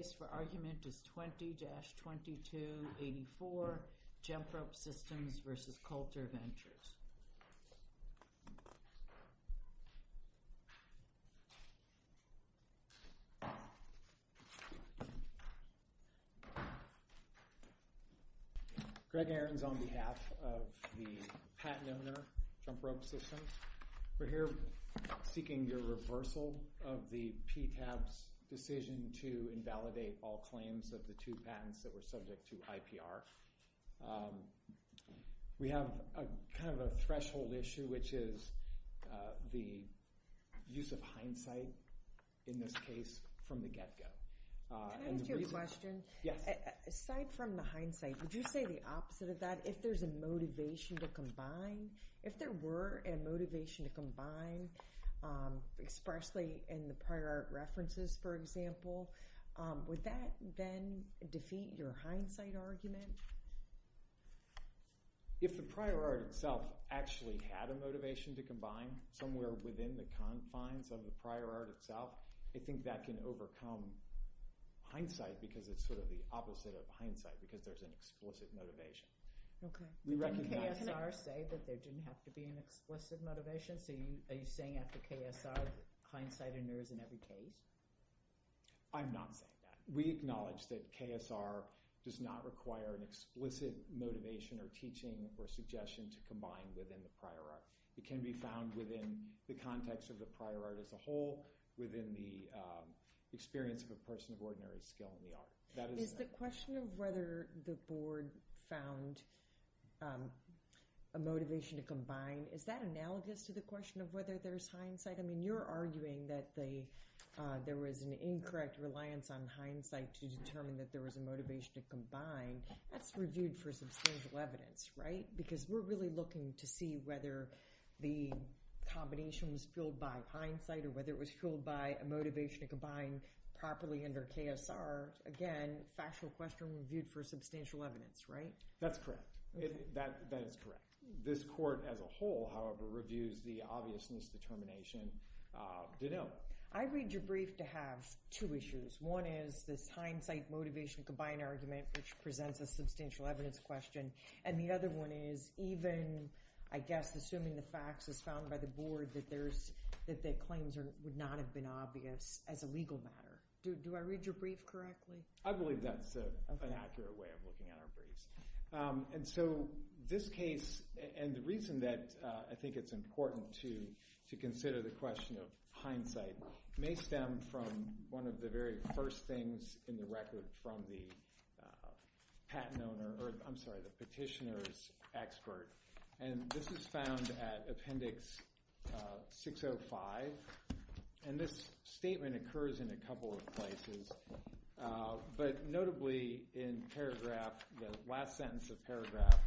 The case for argument is 20-2284, Jump Rope Systems v. Coulter Ventures. Greg Ahrens on behalf of the patent owner, Jump Rope Systems. We're here seeking your reversal of the PTAB's decision to invalidate all claims of the two patents that were subject to IPR. We have a kind of a threshold issue, which is the use of hindsight in this case from the get-go. Can I ask you a question? Yes. Aside from the hindsight, would you say the opposite of that? If there's a motivation to combine, if there were a motivation to combine expressly in the prior art references, for example, would that then defeat your hindsight argument? If the prior art itself actually had a motivation to combine somewhere within the confines of the prior art itself, I think that can overcome hindsight because it's sort of the opposite of hindsight because there's an explicit motivation. Can KSR say that there didn't have to be an explicit motivation? Are you saying after KSR, hindsight in there is in every case? I'm not saying that. We acknowledge that KSR does not require an explicit motivation or teaching or suggestion to combine within the prior art. It can be found within the context of the prior art as a whole, within the experience of a person of ordinary skill in the art. Is the question of whether the board found a motivation to combine, is that analogous to the question of whether there's hindsight? I mean, you're arguing that there was an incorrect reliance on hindsight to determine that there was a motivation to combine. That's reviewed for substantial evidence, right? Because we're really looking to see whether the combination was fueled by hindsight or whether it was fueled by a motivation to combine properly under KSR. Again, factual question reviewed for substantial evidence, right? That's correct. That is correct. This court as a whole, however, reviews the obviousness determination to know. I read your brief to have two issues. One is this hindsight motivation to combine argument, which presents a substantial evidence question. And the other one is even, I guess, assuming the facts as found by the board that there's claims would not have been obvious as a legal matter. Do I read your brief correctly? I believe that's an accurate way of looking at our briefs. And so this case, and the reason that I think it's important to consider the question of hindsight, may stem from one of the very first things in the record from the patent owner, or I'm sorry, the petitioner's expert. And this is found at Appendix 605. And this statement occurs in a couple of places. But notably in paragraph, the last sentence of paragraph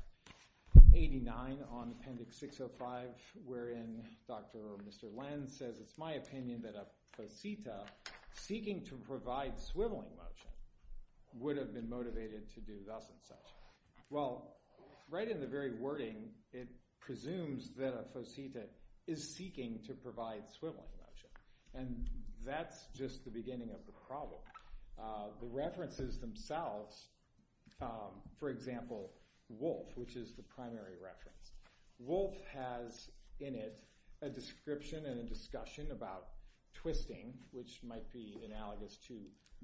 89 on Appendix 605, wherein Dr. or Mr. Lenz says, it's my opinion that a posita seeking to provide swiveling motion would have been motivated to do thus and such. Well, right in the very wording, it presumes that a posita is seeking to provide swiveling motion. And that's just the beginning of the problem. The references themselves, for example, wolf, which is the primary reference. Wolf has in it a description and a discussion about twisting, which might be analogous to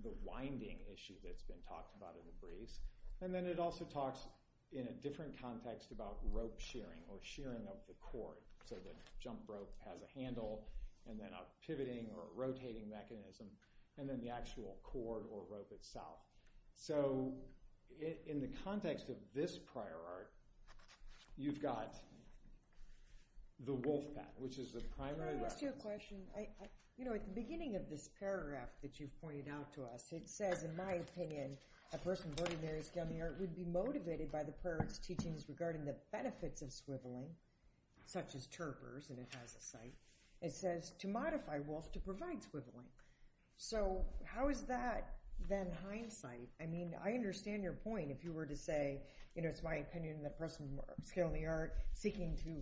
the winding issue that's been talked about in the briefs. And then it also talks in a different context about rope shearing, or shearing of the cord. So the jump rope has a handle, and then a pivoting or rotating mechanism, and then the actual cord or rope itself. So in the context of this prior art, you've got the wolf pat, which is the primary reference. Can I ask you a question? You know, at the beginning of this paragraph that you pointed out to us, it says, in my opinion, the person of skill in the art would be motivated by the prior art's teachings regarding the benefits of swiveling, such as Terpers, and it has a site. It says, to modify wolf to provide swiveling. So how is that then hindsight? I mean, I understand your point. If you were to say, you know, it's my opinion, the person of skill in the art seeking to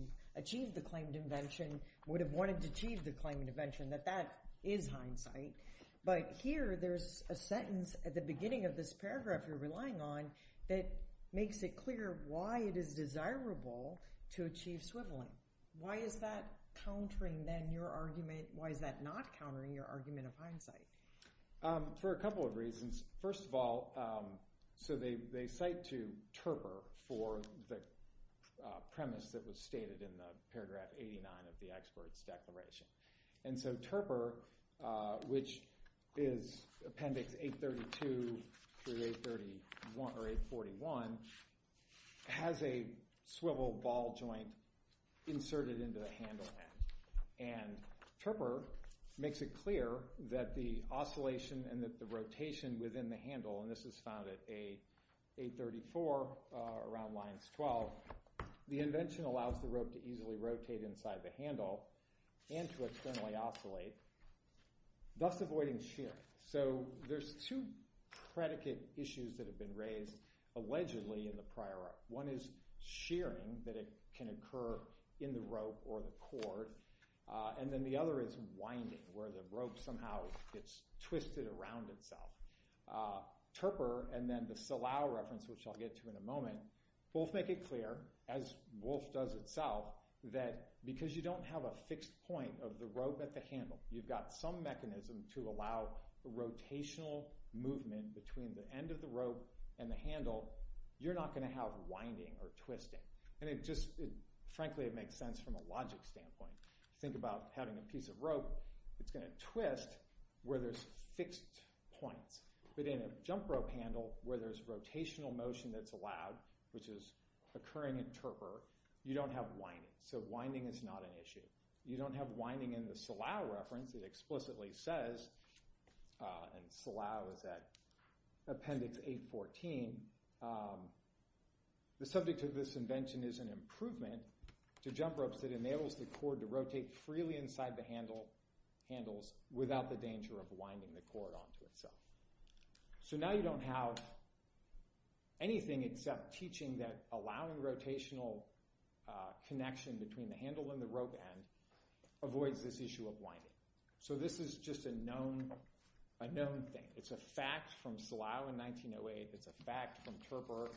achieve the claimed invention would have wanted to achieve the claimed invention, that that is hindsight. But here, there's a sentence at the beginning of this paragraph you're relying on that makes it clear why it is desirable to achieve swiveling. Why is that countering, then, your argument? Why is that not countering your argument of hindsight? For a couple of reasons. First of all, so they cite to Terper for the premise that was stated in the paragraph 89 of the expert's declaration. And so Terper, which is appendix 832 through 841, has a swivel ball joint inserted into the handle end. And Terper makes it clear that the oscillation and that the rotation within the handle, and this is found at 834 around lines 12, the invention allows the rope to easily rotate inside the handle and to externally oscillate, thus avoiding shearing. So there's two predicate issues that have been raised allegedly in the prior art. One is shearing, that it can occur in the rope or the cord. And then the other is winding, where the rope somehow gets twisted around itself. Terper, and then the Salau reference, which I'll get to in a moment, both make it clear, as Wolfe does itself, that because you don't have a fixed point of the rope at the handle, you've got some mechanism to allow the rotational movement between the end of the rope and the handle, you're not going to have winding or twisting. And it just, frankly, it makes sense from a logic standpoint. Think about having a piece of rope that's going to twist where there's fixed points. But in a jump rope handle, where there's rotational motion that's allowed, which is occurring in terper, you don't have winding, so winding is not an issue. You don't have winding in the Salau reference that explicitly says, and Salau is at Appendix 814, the subject of this invention is an improvement to jump ropes that enables the cord to rotate freely inside the handles without the danger of winding the cord onto itself. So now you don't have anything except teaching that allowing rotational connection between the handle and the rope end avoids this issue of winding. So this is just a known thing. It's a fact from Salau in 1908. It's a fact from Terper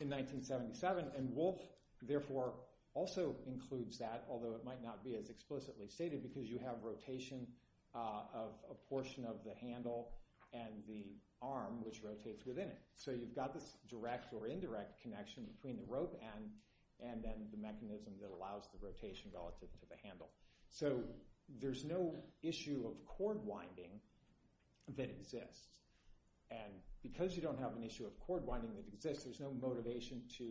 in 1977. And Wolfe, therefore, also includes that, although it might not be as explicitly stated, because you have rotation of a portion of the handle and the arm, which rotates within it. So you've got this direct or indirect connection between the rope end and then the mechanism that allows the rotation relative to the handle. So there's no issue of cord winding that exists. And because you don't have an issue of cord winding that exists, there's no motivation to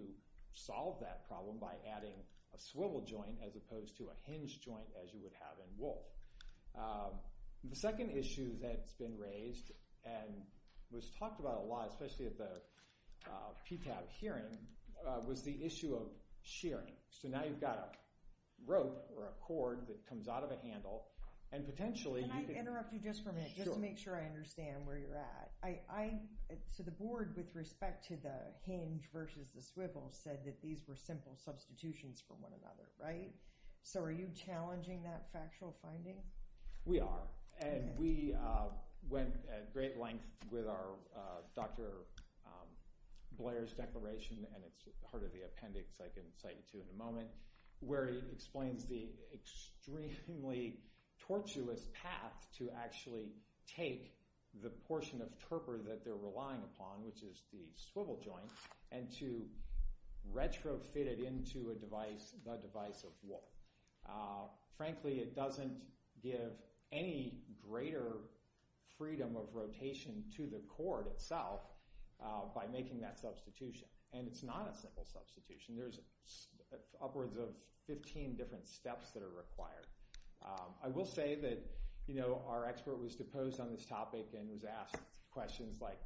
solve that problem by adding a swivel joint as opposed to a hinge joint as you would have in Wolfe. The second issue that's been raised and was talked about a lot, especially at the PTAB hearing, was the issue of shearing. So now you've got a rope or a cord that comes out of a handle, and potentially... So the board, with respect to the hinge versus the swivel, said that these were simple substitutions for one another, right? So are you challenging that factual finding? We are. And we went at great length with Dr. Blair's declaration, and it's part of the appendix I can cite to in a moment, where he explains the extremely tortuous path to actually take the portion of turper that they're relying upon, which is the swivel joint, and to retrofit it into a device, the device of Wolfe. Frankly, it doesn't give any greater freedom of rotation to the cord itself by making that substitution. And it's not a simple substitution. There's upwards of 15 different steps that are required. I will say that our expert was deposed on this topic and was asked questions like,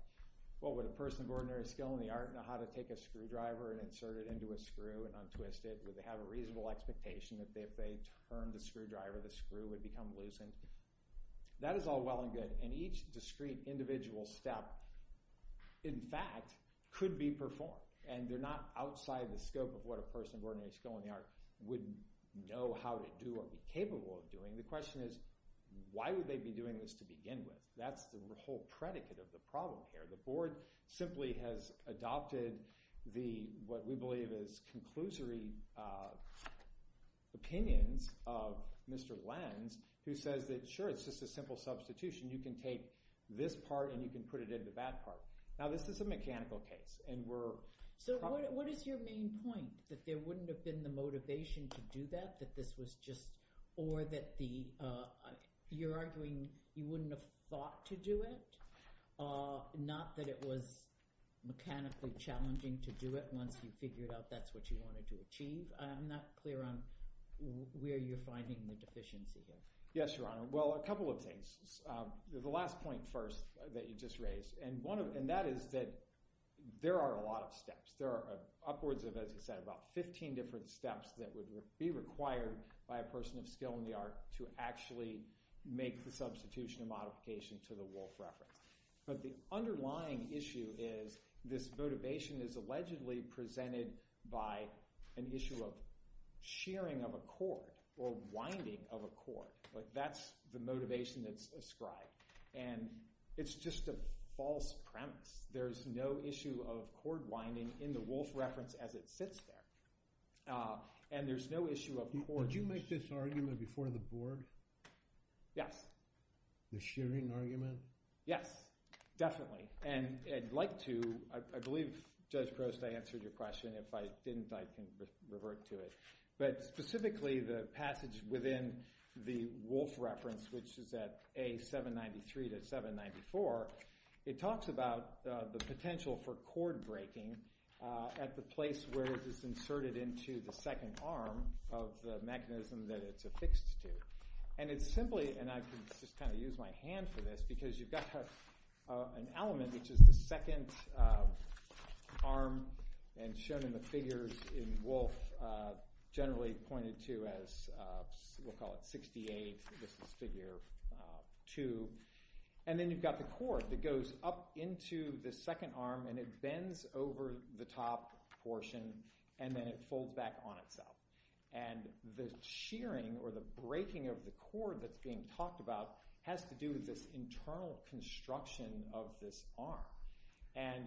would a person of ordinary skill in the art know how to take a screwdriver and insert it into a screw and untwist it? Would they have a reasonable expectation that if they turned the screwdriver, the screw would become loosened? That is all well and good. And each discrete individual step, in fact, could be performed. And they're not outside the scope of what a person of ordinary skill in the art would know how to do or be capable of doing. The question is, why would they be doing this to begin with? That's the whole predicate of the problem here. The board simply has adopted the, what we believe is, conclusory opinions of Mr. Lenz, who says that, sure, it's just a simple substitution. You can take this part and you can put it into that part. Now, this is a mechanical case. So what is your main point? That there wouldn't have been the motivation to do that? Or that you're arguing you wouldn't have thought to do it? Not that it was mechanically challenging to do it once you figured out that's what you wanted to achieve? I'm not clear on where you're finding the deficiencies in. Yes, Your Honor. Well, a couple of things. The last point first that you just raised. And that is that there are a lot of steps. There are upwards of, as you said, about 15 different steps that would be required by a person of skill in the art to actually make the substitution and modification to the Wolf Reference. But the underlying issue is, this motivation is allegedly presented by an issue of shearing of a cord, or winding of a cord. That's the motivation that's ascribed. And it's just a false premise. There's no issue of cord winding in the Wolf Reference as it sits there. And there's no issue of cords. Did you make this argument before the Board? Yes. The shearing argument? Yes, definitely. And I'd like to, I believe Judge Prost, I answered your question. If I didn't, I can revert to it. But specifically, the passage within the Wolf Reference, which is at A793-794, it talks about the potential for cord breaking at the place where it is inserted into the second arm of the mechanism that it's affixed to. And it's simply, and I can just kind of use my hand for this, because you've got an element, which is the second arm, and shown in the figures in Wolf, generally pointed to as, we'll call it 68, this is figure 2. And then you've got the cord that goes up into the second arm and it bends over the top portion and then it folds back on itself. And the shearing, or the breaking of the cord that's being talked about, has to do with this internal construction of this arm. And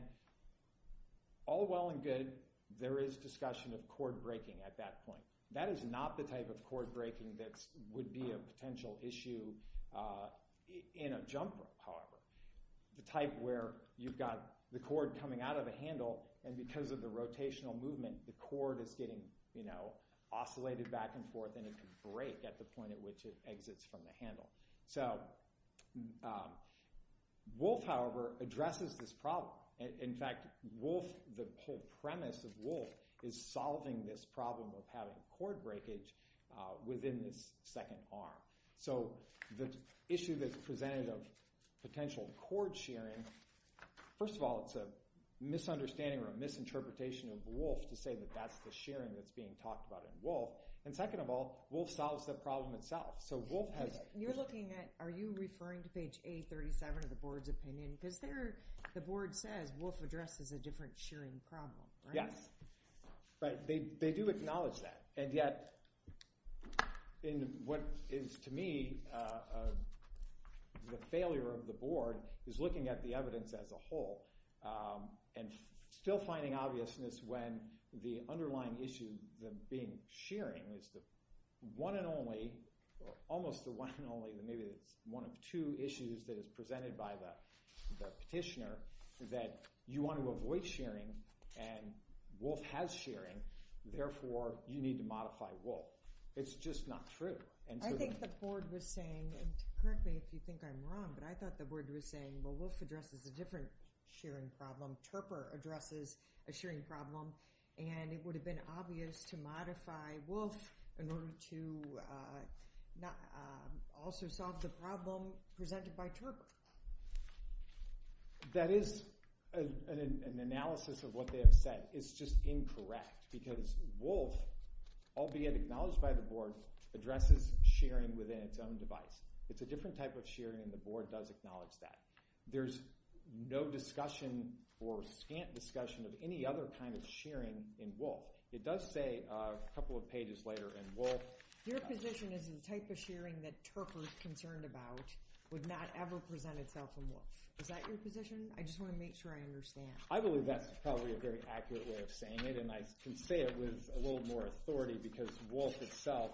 all well and good, there is discussion of cord breaking at that point. That is not the type of cord breaking that would be a potential issue in a jumper, however. The type where you've got the cord coming out of a handle and because of the rotational movement, the cord is getting oscillated back and forth and it can break at the point at which it exits from the handle. So, Wolf, however, addresses this problem. In fact, Wolf, the whole premise of Wolf, is solving this problem of having a cord breakage within this second arm. So, the issue that's presented of potential cord shearing, first of all, it's a misunderstanding or a misinterpretation of Wolf to say that that's the shearing that's being talked about in Wolf. And second of all, Wolf solves the problem itself. You're looking at, are you referring to page A37 of the board's opinion? Because there, the board says, Wolf addresses a different shearing problem, right? Yes, but they do acknowledge that. And yet, in what is, to me, the failure of the board is looking at the evidence as a whole and still finding obviousness when the underlying issue of being shearing is the one and only, almost the one and only, maybe it's one of two issues that is presented by the petitioner that you want to avoid shearing and Wolf has shearing, therefore, you need to modify Wolf. It's just not true. I think the board was saying, and correct me if you think I'm wrong, but I thought the board was saying, well, Wolf addresses a different shearing problem, Terper addresses a shearing problem, and it would have been obvious to modify Wolf in order to also solve the problem presented by Terper. That is an analysis of what they have said. It's just incorrect because Wolf, albeit acknowledged by the board, addresses shearing within its own device. It's a different type of shearing and the board does acknowledge that. There's no discussion or scant discussion of any other kind of shearing in Wolf. It does say a couple of pages later in Wolf... Your position is the type of shearing that Terper is concerned about would not ever present itself in Wolf. Is that your position? I just want to make sure I understand. I believe that's probably a very accurate way of saying it and I can say it with a little more authority because Wolf itself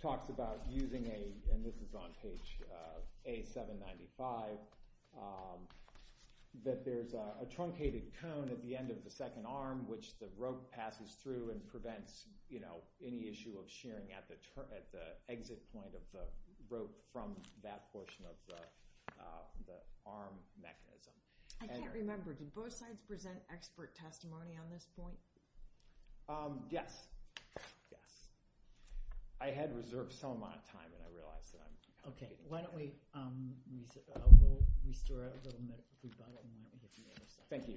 talks about using a, and this is on page A795, that there's a truncated cone at the end of the second arm which the rope passes through and prevents any issue of shearing at the exit point of the rope from that portion of the arm mechanism. I can't remember. Did both sides present expert testimony on this point? Yes. I had reserved some amount of time and I realize that I'm... Okay. Why don't we... Thank you. Thank you.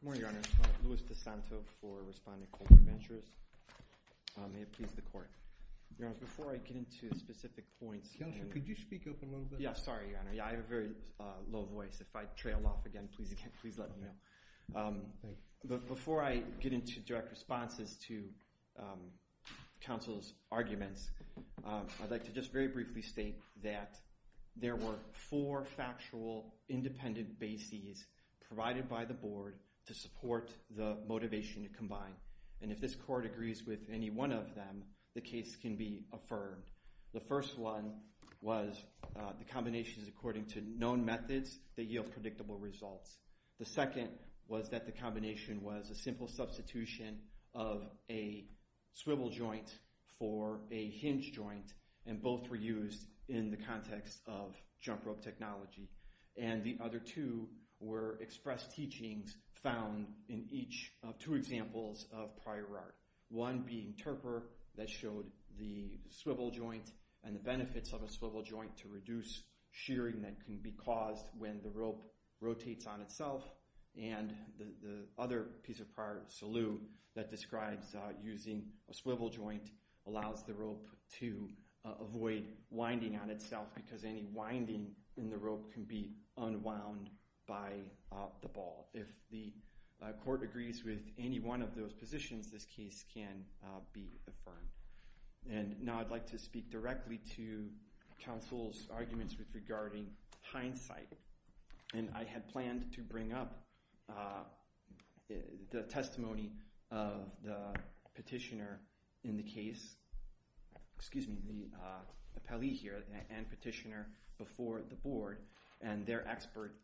Good morning, Your Honor. Louis DeSanto for Respondent Colbert Ventures. May it please the Court. Your Honor, before I get into specific points... Counselor, could you speak up a little bit? Yeah, sorry, Your Honor. I have a very low voice. If I trail off again, please let me know. Before I get into direct responses to counsel's arguments, I'd like to just very briefly state that there were four factual independent bases provided by the Board to support the motivation to combine and if this Court agrees with any one of them, the case can be affirmed. The first one was the combinations according to known methods that yield predictable results. The second was that the combination was a simple substitution of a swivel joint for a hinge joint, and both were used in the context of jump rope technology. And the other two were expressed teachings found in two examples of prior art. One being Turper that showed the swivel joint and the benefits of a swivel joint to reduce shearing that can be caused when the rope rotates on itself and the other piece of prior salute that describes using a swivel joint allows the rope to avoid winding on itself because any winding in the rope can be unwound by the ball. If the Court agrees with any one of those positions, this case can be affirmed. And now I'd like to speak directly to counsel's arguments regarding hindsight. And I had planned to bring up the testimony of the petitioner in the case, excuse me, the appellee here and petitioner before the Board and their expert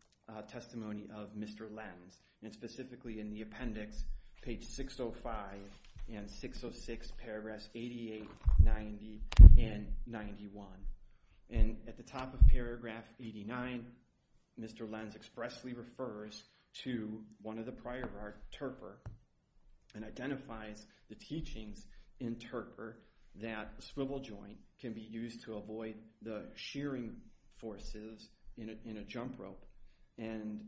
testimony of Mr. Lenz. And specifically in the appendix, page 605 and 606, paragraphs 88, 90, and 91. And at the top of paragraph 89, Mr. Lenz expressly refers to one of the prior art, Turper, and identifies the teachings in Turper that swivel joint can be used to avoid the shearing forces in a jump rope. And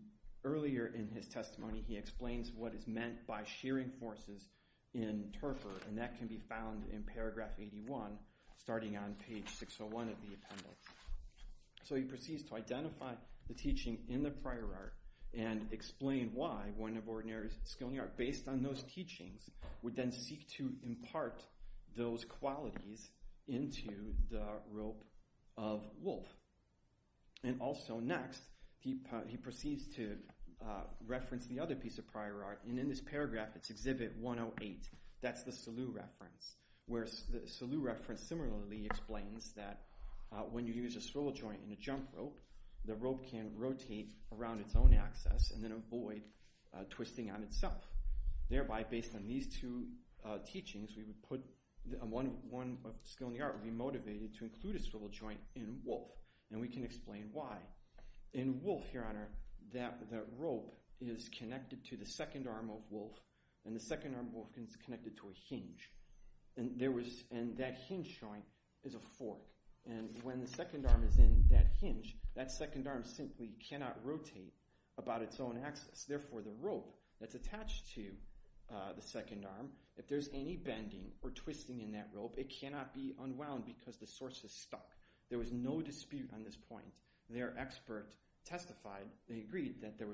earlier in his testimony, he explains what is meant by shearing forces in Turper, and that can be found in paragraph 81, starting on page 601 of the appendix. So he proceeds to identify the teaching in the prior art and explain why one of ordinary skill in the art based on those teachings would then seek to impart those qualities into the rope of Wolf. And also next, he proceeds to reference the other piece of prior art and in this paragraph, it's exhibit 108, that's the Salu reference. Where the Salu reference similarly explains that when you use a swivel joint in a jump rope, the rope can rotate around its own axis and then avoid twisting on itself. Thereby, based on these two teachings, one skill in the art would be motivated to include a swivel joint in Wolf, and we can explain why. In Wolf, Your Honor, the rope is connected to the second arm of Wolf, and the second arm of Wolf is connected to a hinge. And that hinge joint is a fork. And when the second arm is in that hinge, that second arm simply cannot rotate about its own axis. Therefore, the rope that's attached to the second arm, if there's any bending or twisting in that rope, it cannot be unwound because the source is stuck. There was no dispute on this point. Their expert testified, they agreed, that the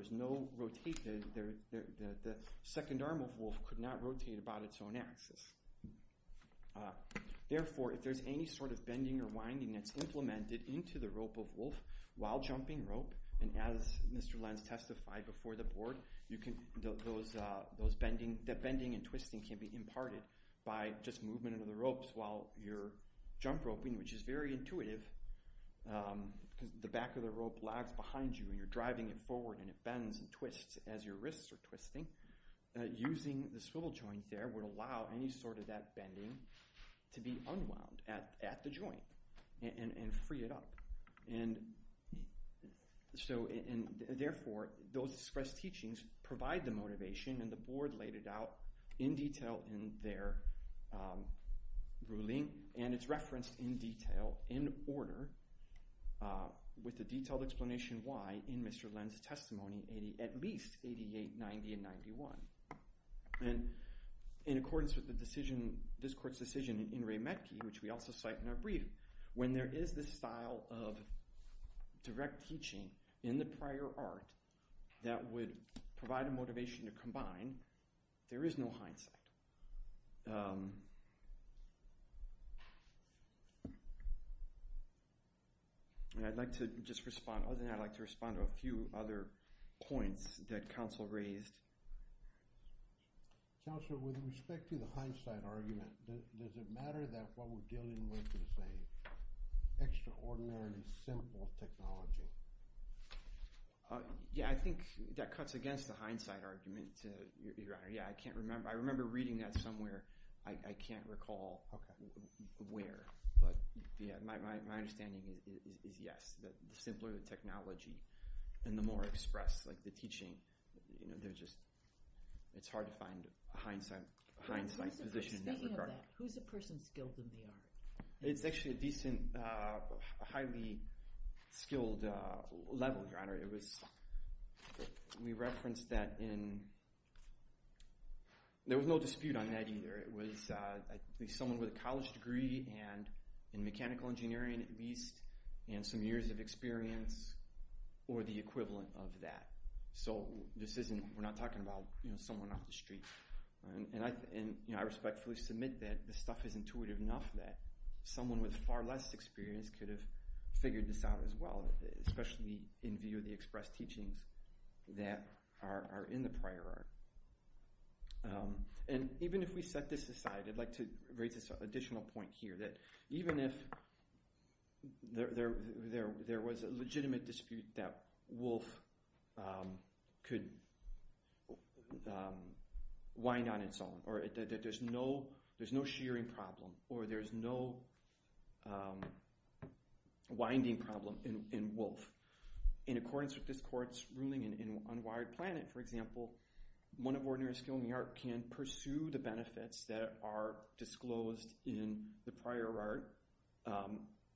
second arm of Wolf could not rotate about its own axis. Therefore, if there's any sort of bending or winding that's implemented into the rope of Wolf while jumping rope, and as Mr. Lenz testified before the board, the bending and twisting can be imparted by just movement of the ropes while you're jump roping, which is very intuitive. The back of the rope lags behind you and you're driving it forward and it bends and twists as your wrists are twisting. Using the swivel joint there would allow any sort of that bending to be unwound at the joint and free it up. Therefore, those expressed teachings provide the motivation, and the board laid it out in detail in their ruling, and it's referenced in detail in order with a detailed explanation why in Mr. Lenz's testimony, at least 88, 90, and 91. In accordance with this court's decision in Ray Metcalfe, which we also cite in our brief, when there is this style of direct teaching in the prior art that would provide a motivation to combine, there is no hindsight. And I'd like to just respond, other than I'd like to respond to a few other points that counsel raised. Counselor, with respect to the hindsight argument, does it matter that what we're dealing with is an extraordinarily simple technology? Yeah, I think that cuts against the hindsight argument, Your Honor. Yeah, I can't remember. I remember reading that somewhere. I can't recall where, but my understanding is yes. The simpler the technology, and the more expressed the teaching, it's hard to find a hindsight position in that regard. Speaking of that, who's the person skilled in the art? It's actually a decent, highly skilled level, Your Honor. We referenced that in... There was no dispute on that either. It was someone with a college degree in mechanical engineering at least, and some years of experience or the equivalent of that. We're not talking about someone off the street. And I respectfully submit that this stuff is intuitive enough that someone with far less experience could have figured this out as well, especially in view of the expressed teachings that are in the prior art. And even if we set this aside, I'd like to raise this additional point here, that even if there was a legitimate dispute that wolf could wind on its own, or there's no shearing problem, or there's no winding problem in wolf. In accordance with this court's ruling in Unwired Planet, for example, one of ordinary skilled in the art can pursue the benefits that are disclosed in the prior art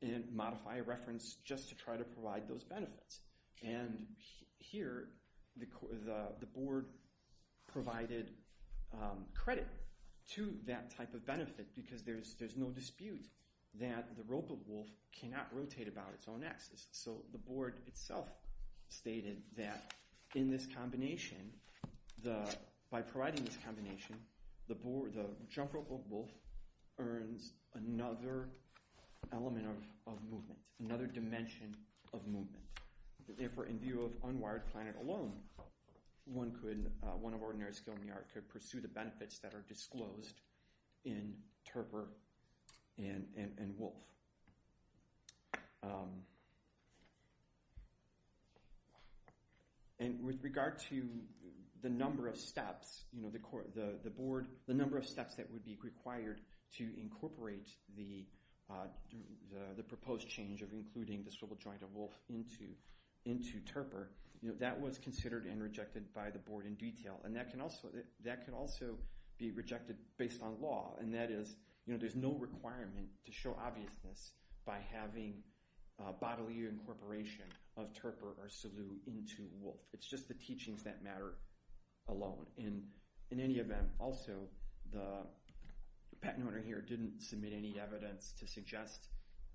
and modify a reference just to try to provide those benefits. And here, the board provided credit to that type of benefit because there's no dispute that the rope of wolf cannot rotate about its own axis. So the board itself stated that in this combination, by providing this combination, the jump rope of wolf earns another element of movement, another dimension of movement. Therefore, in view of Unwired Planet alone, one of ordinary skilled in the art could pursue the benefits that are disclosed in Terper and Wolf. And with regard to the number of steps the board, the number of steps that would be required to incorporate the proposed change of including the swivel joint of wolf into Terper, that was considered and rejected by the board in detail and that can also be rejected based on law. And that is, there's no requirement to show obviousness by having bodily incorporation of Terper or Sulu into wolf. It's just the teachings that matter alone. And in any event, also, the patent owner here didn't submit any evidence to suggest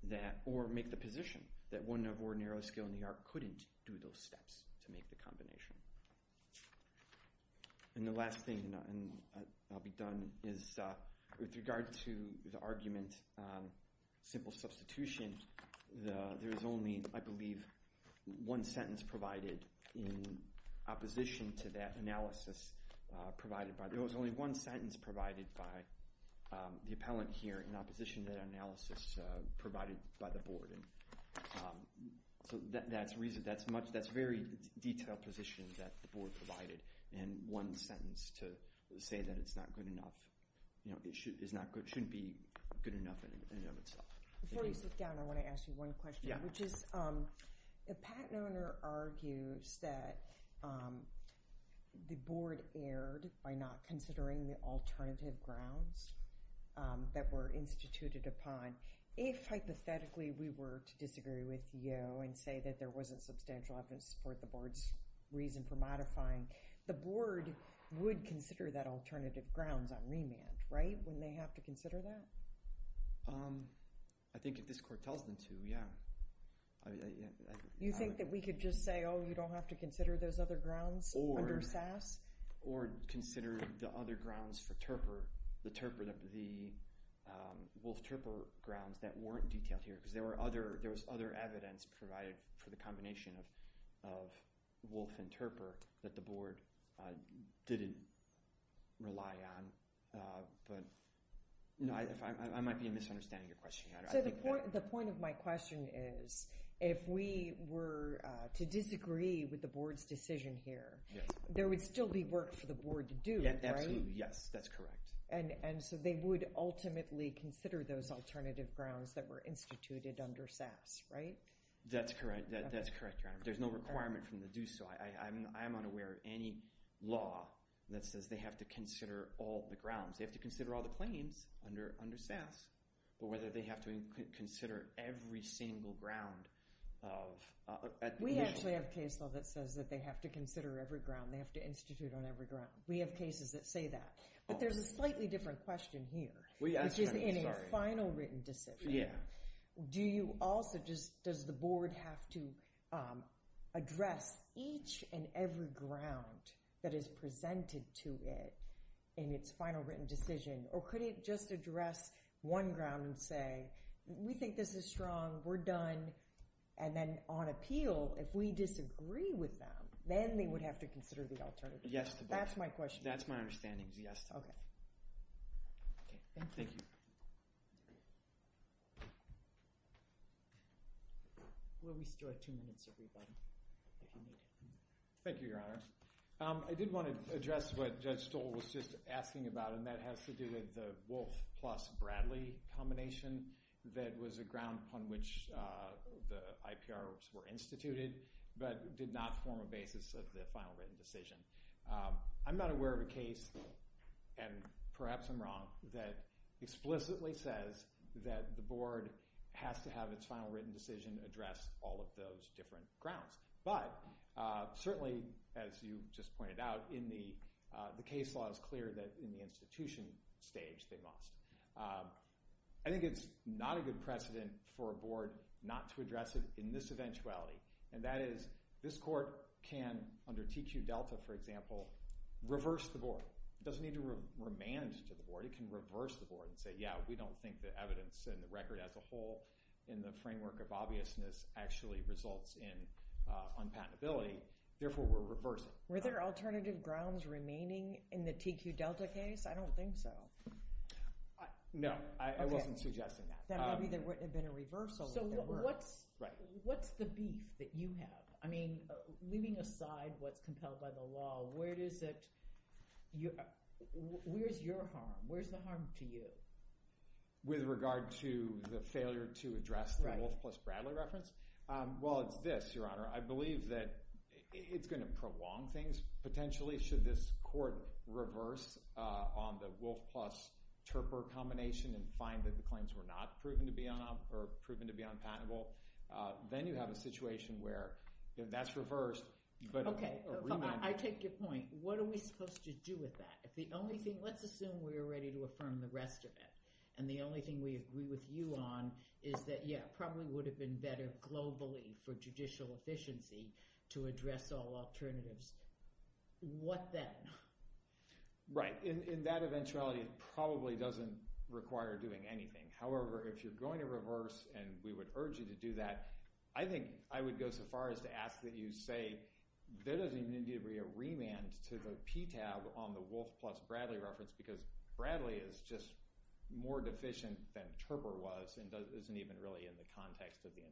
that or make the position that one of ordinary skilled in the art couldn't do those steps to make the combination. And the last thing I'll be done is with regard to the argument simple substitution, there's only I believe one sentence provided in opposition to that analysis provided by, there was only one sentence provided by the appellant here in opposition to that analysis provided by the board. So that's very detailed position that the board provided and one sentence to say that it's not good enough it shouldn't be good enough in and of itself. Before you sit down, I want to ask you one question The patent owner argues that the board erred by not considering the alternative grounds that were instituted upon If hypothetically we were to disagree with you and say that there wasn't substantial evidence to support the board's reason for modifying, the board would consider that alternative grounds on remand, right? Wouldn't they have to consider that? I think if this court tells them to, yeah. You think that we could just say, oh, you don't have to consider those other grounds under SAS? Or consider the other grounds for Terper the Wolf-Terper grounds that weren't detailed here because there was other evidence provided for the combination of Wolf and Terper that the board didn't rely on I might be misunderstanding your question. If we were to disagree with the board's decision here, there would still be work for the board to do, right? And so they would ultimately consider those alternative grounds that were instituted under SAS, right? That's correct. There's no requirement to do so. I'm unaware of any law that says they have to consider all the grounds They have to consider all the claims under SAS or whether they have to consider every single ground We actually have case law that says they have to consider every ground. They have to institute on every ground. We have cases that say that. But there's a slightly different question here which is in a final written decision does the board have to address each and every ground that is presented to it in its final written decision? Or could it just address one ground and say we think this is strong. We're done. And then on appeal, if we disagree with them then they would have to consider the alternative. That's my understanding. Thank you. Thank you, Your Honor. I did want to address what Judge Stoll was just asking about and that has to do with the Wolfe plus Bradley combination that was a ground on which the IPRs were instituted but did not form a basis of the final written decision. I'm not aware of a case, and perhaps I'm wrong that explicitly says that the board has to have its final written decision address all of those different grounds. But certainly, as you just pointed out the case law is clear that in the institution stage they must. I think it's not a good precedent for a board not to address it in this eventuality and that is this court can, under TQ Delta for example reverse the board. It doesn't need to remand to the board. It can reverse the board and say yeah, we don't think the evidence and the record as a whole in the framework of obviousness actually results in unpatentability. Therefore, we're reversing. Were there alternative grounds remaining in the TQ Delta case? I don't think so. No, I wasn't suggesting that. There probably wouldn't have been a reversal. What's the beef that you have? Leaving aside what's compelled by the law where's your harm? Where's the harm to you? With regard to the failure to address the Wolfe plus Bradley reference? It's this, Your Honor. I believe that it's going to prolong things potentially should this court reverse on the Wolfe plus Turper combination and find that the claims were not proven to be unpatentable. Then you have a situation where that's reversed. I take your point. What are we supposed to do with that? Let's assume we are ready to affirm the rest of it and the only thing we agree with you on is that it probably would have been better globally for judicial efficiency to address all alternatives. What then? In that eventuality, it probably doesn't require doing anything. However, if you're going to reverse and we would urge you to do that, I think I would go so far as to ask that you say there doesn't need to be a remand to the PTAB on the Wolfe plus Bradley reference because Bradley is just more deficient than Turper was and isn't even really in the context of the invention. Thank you very much.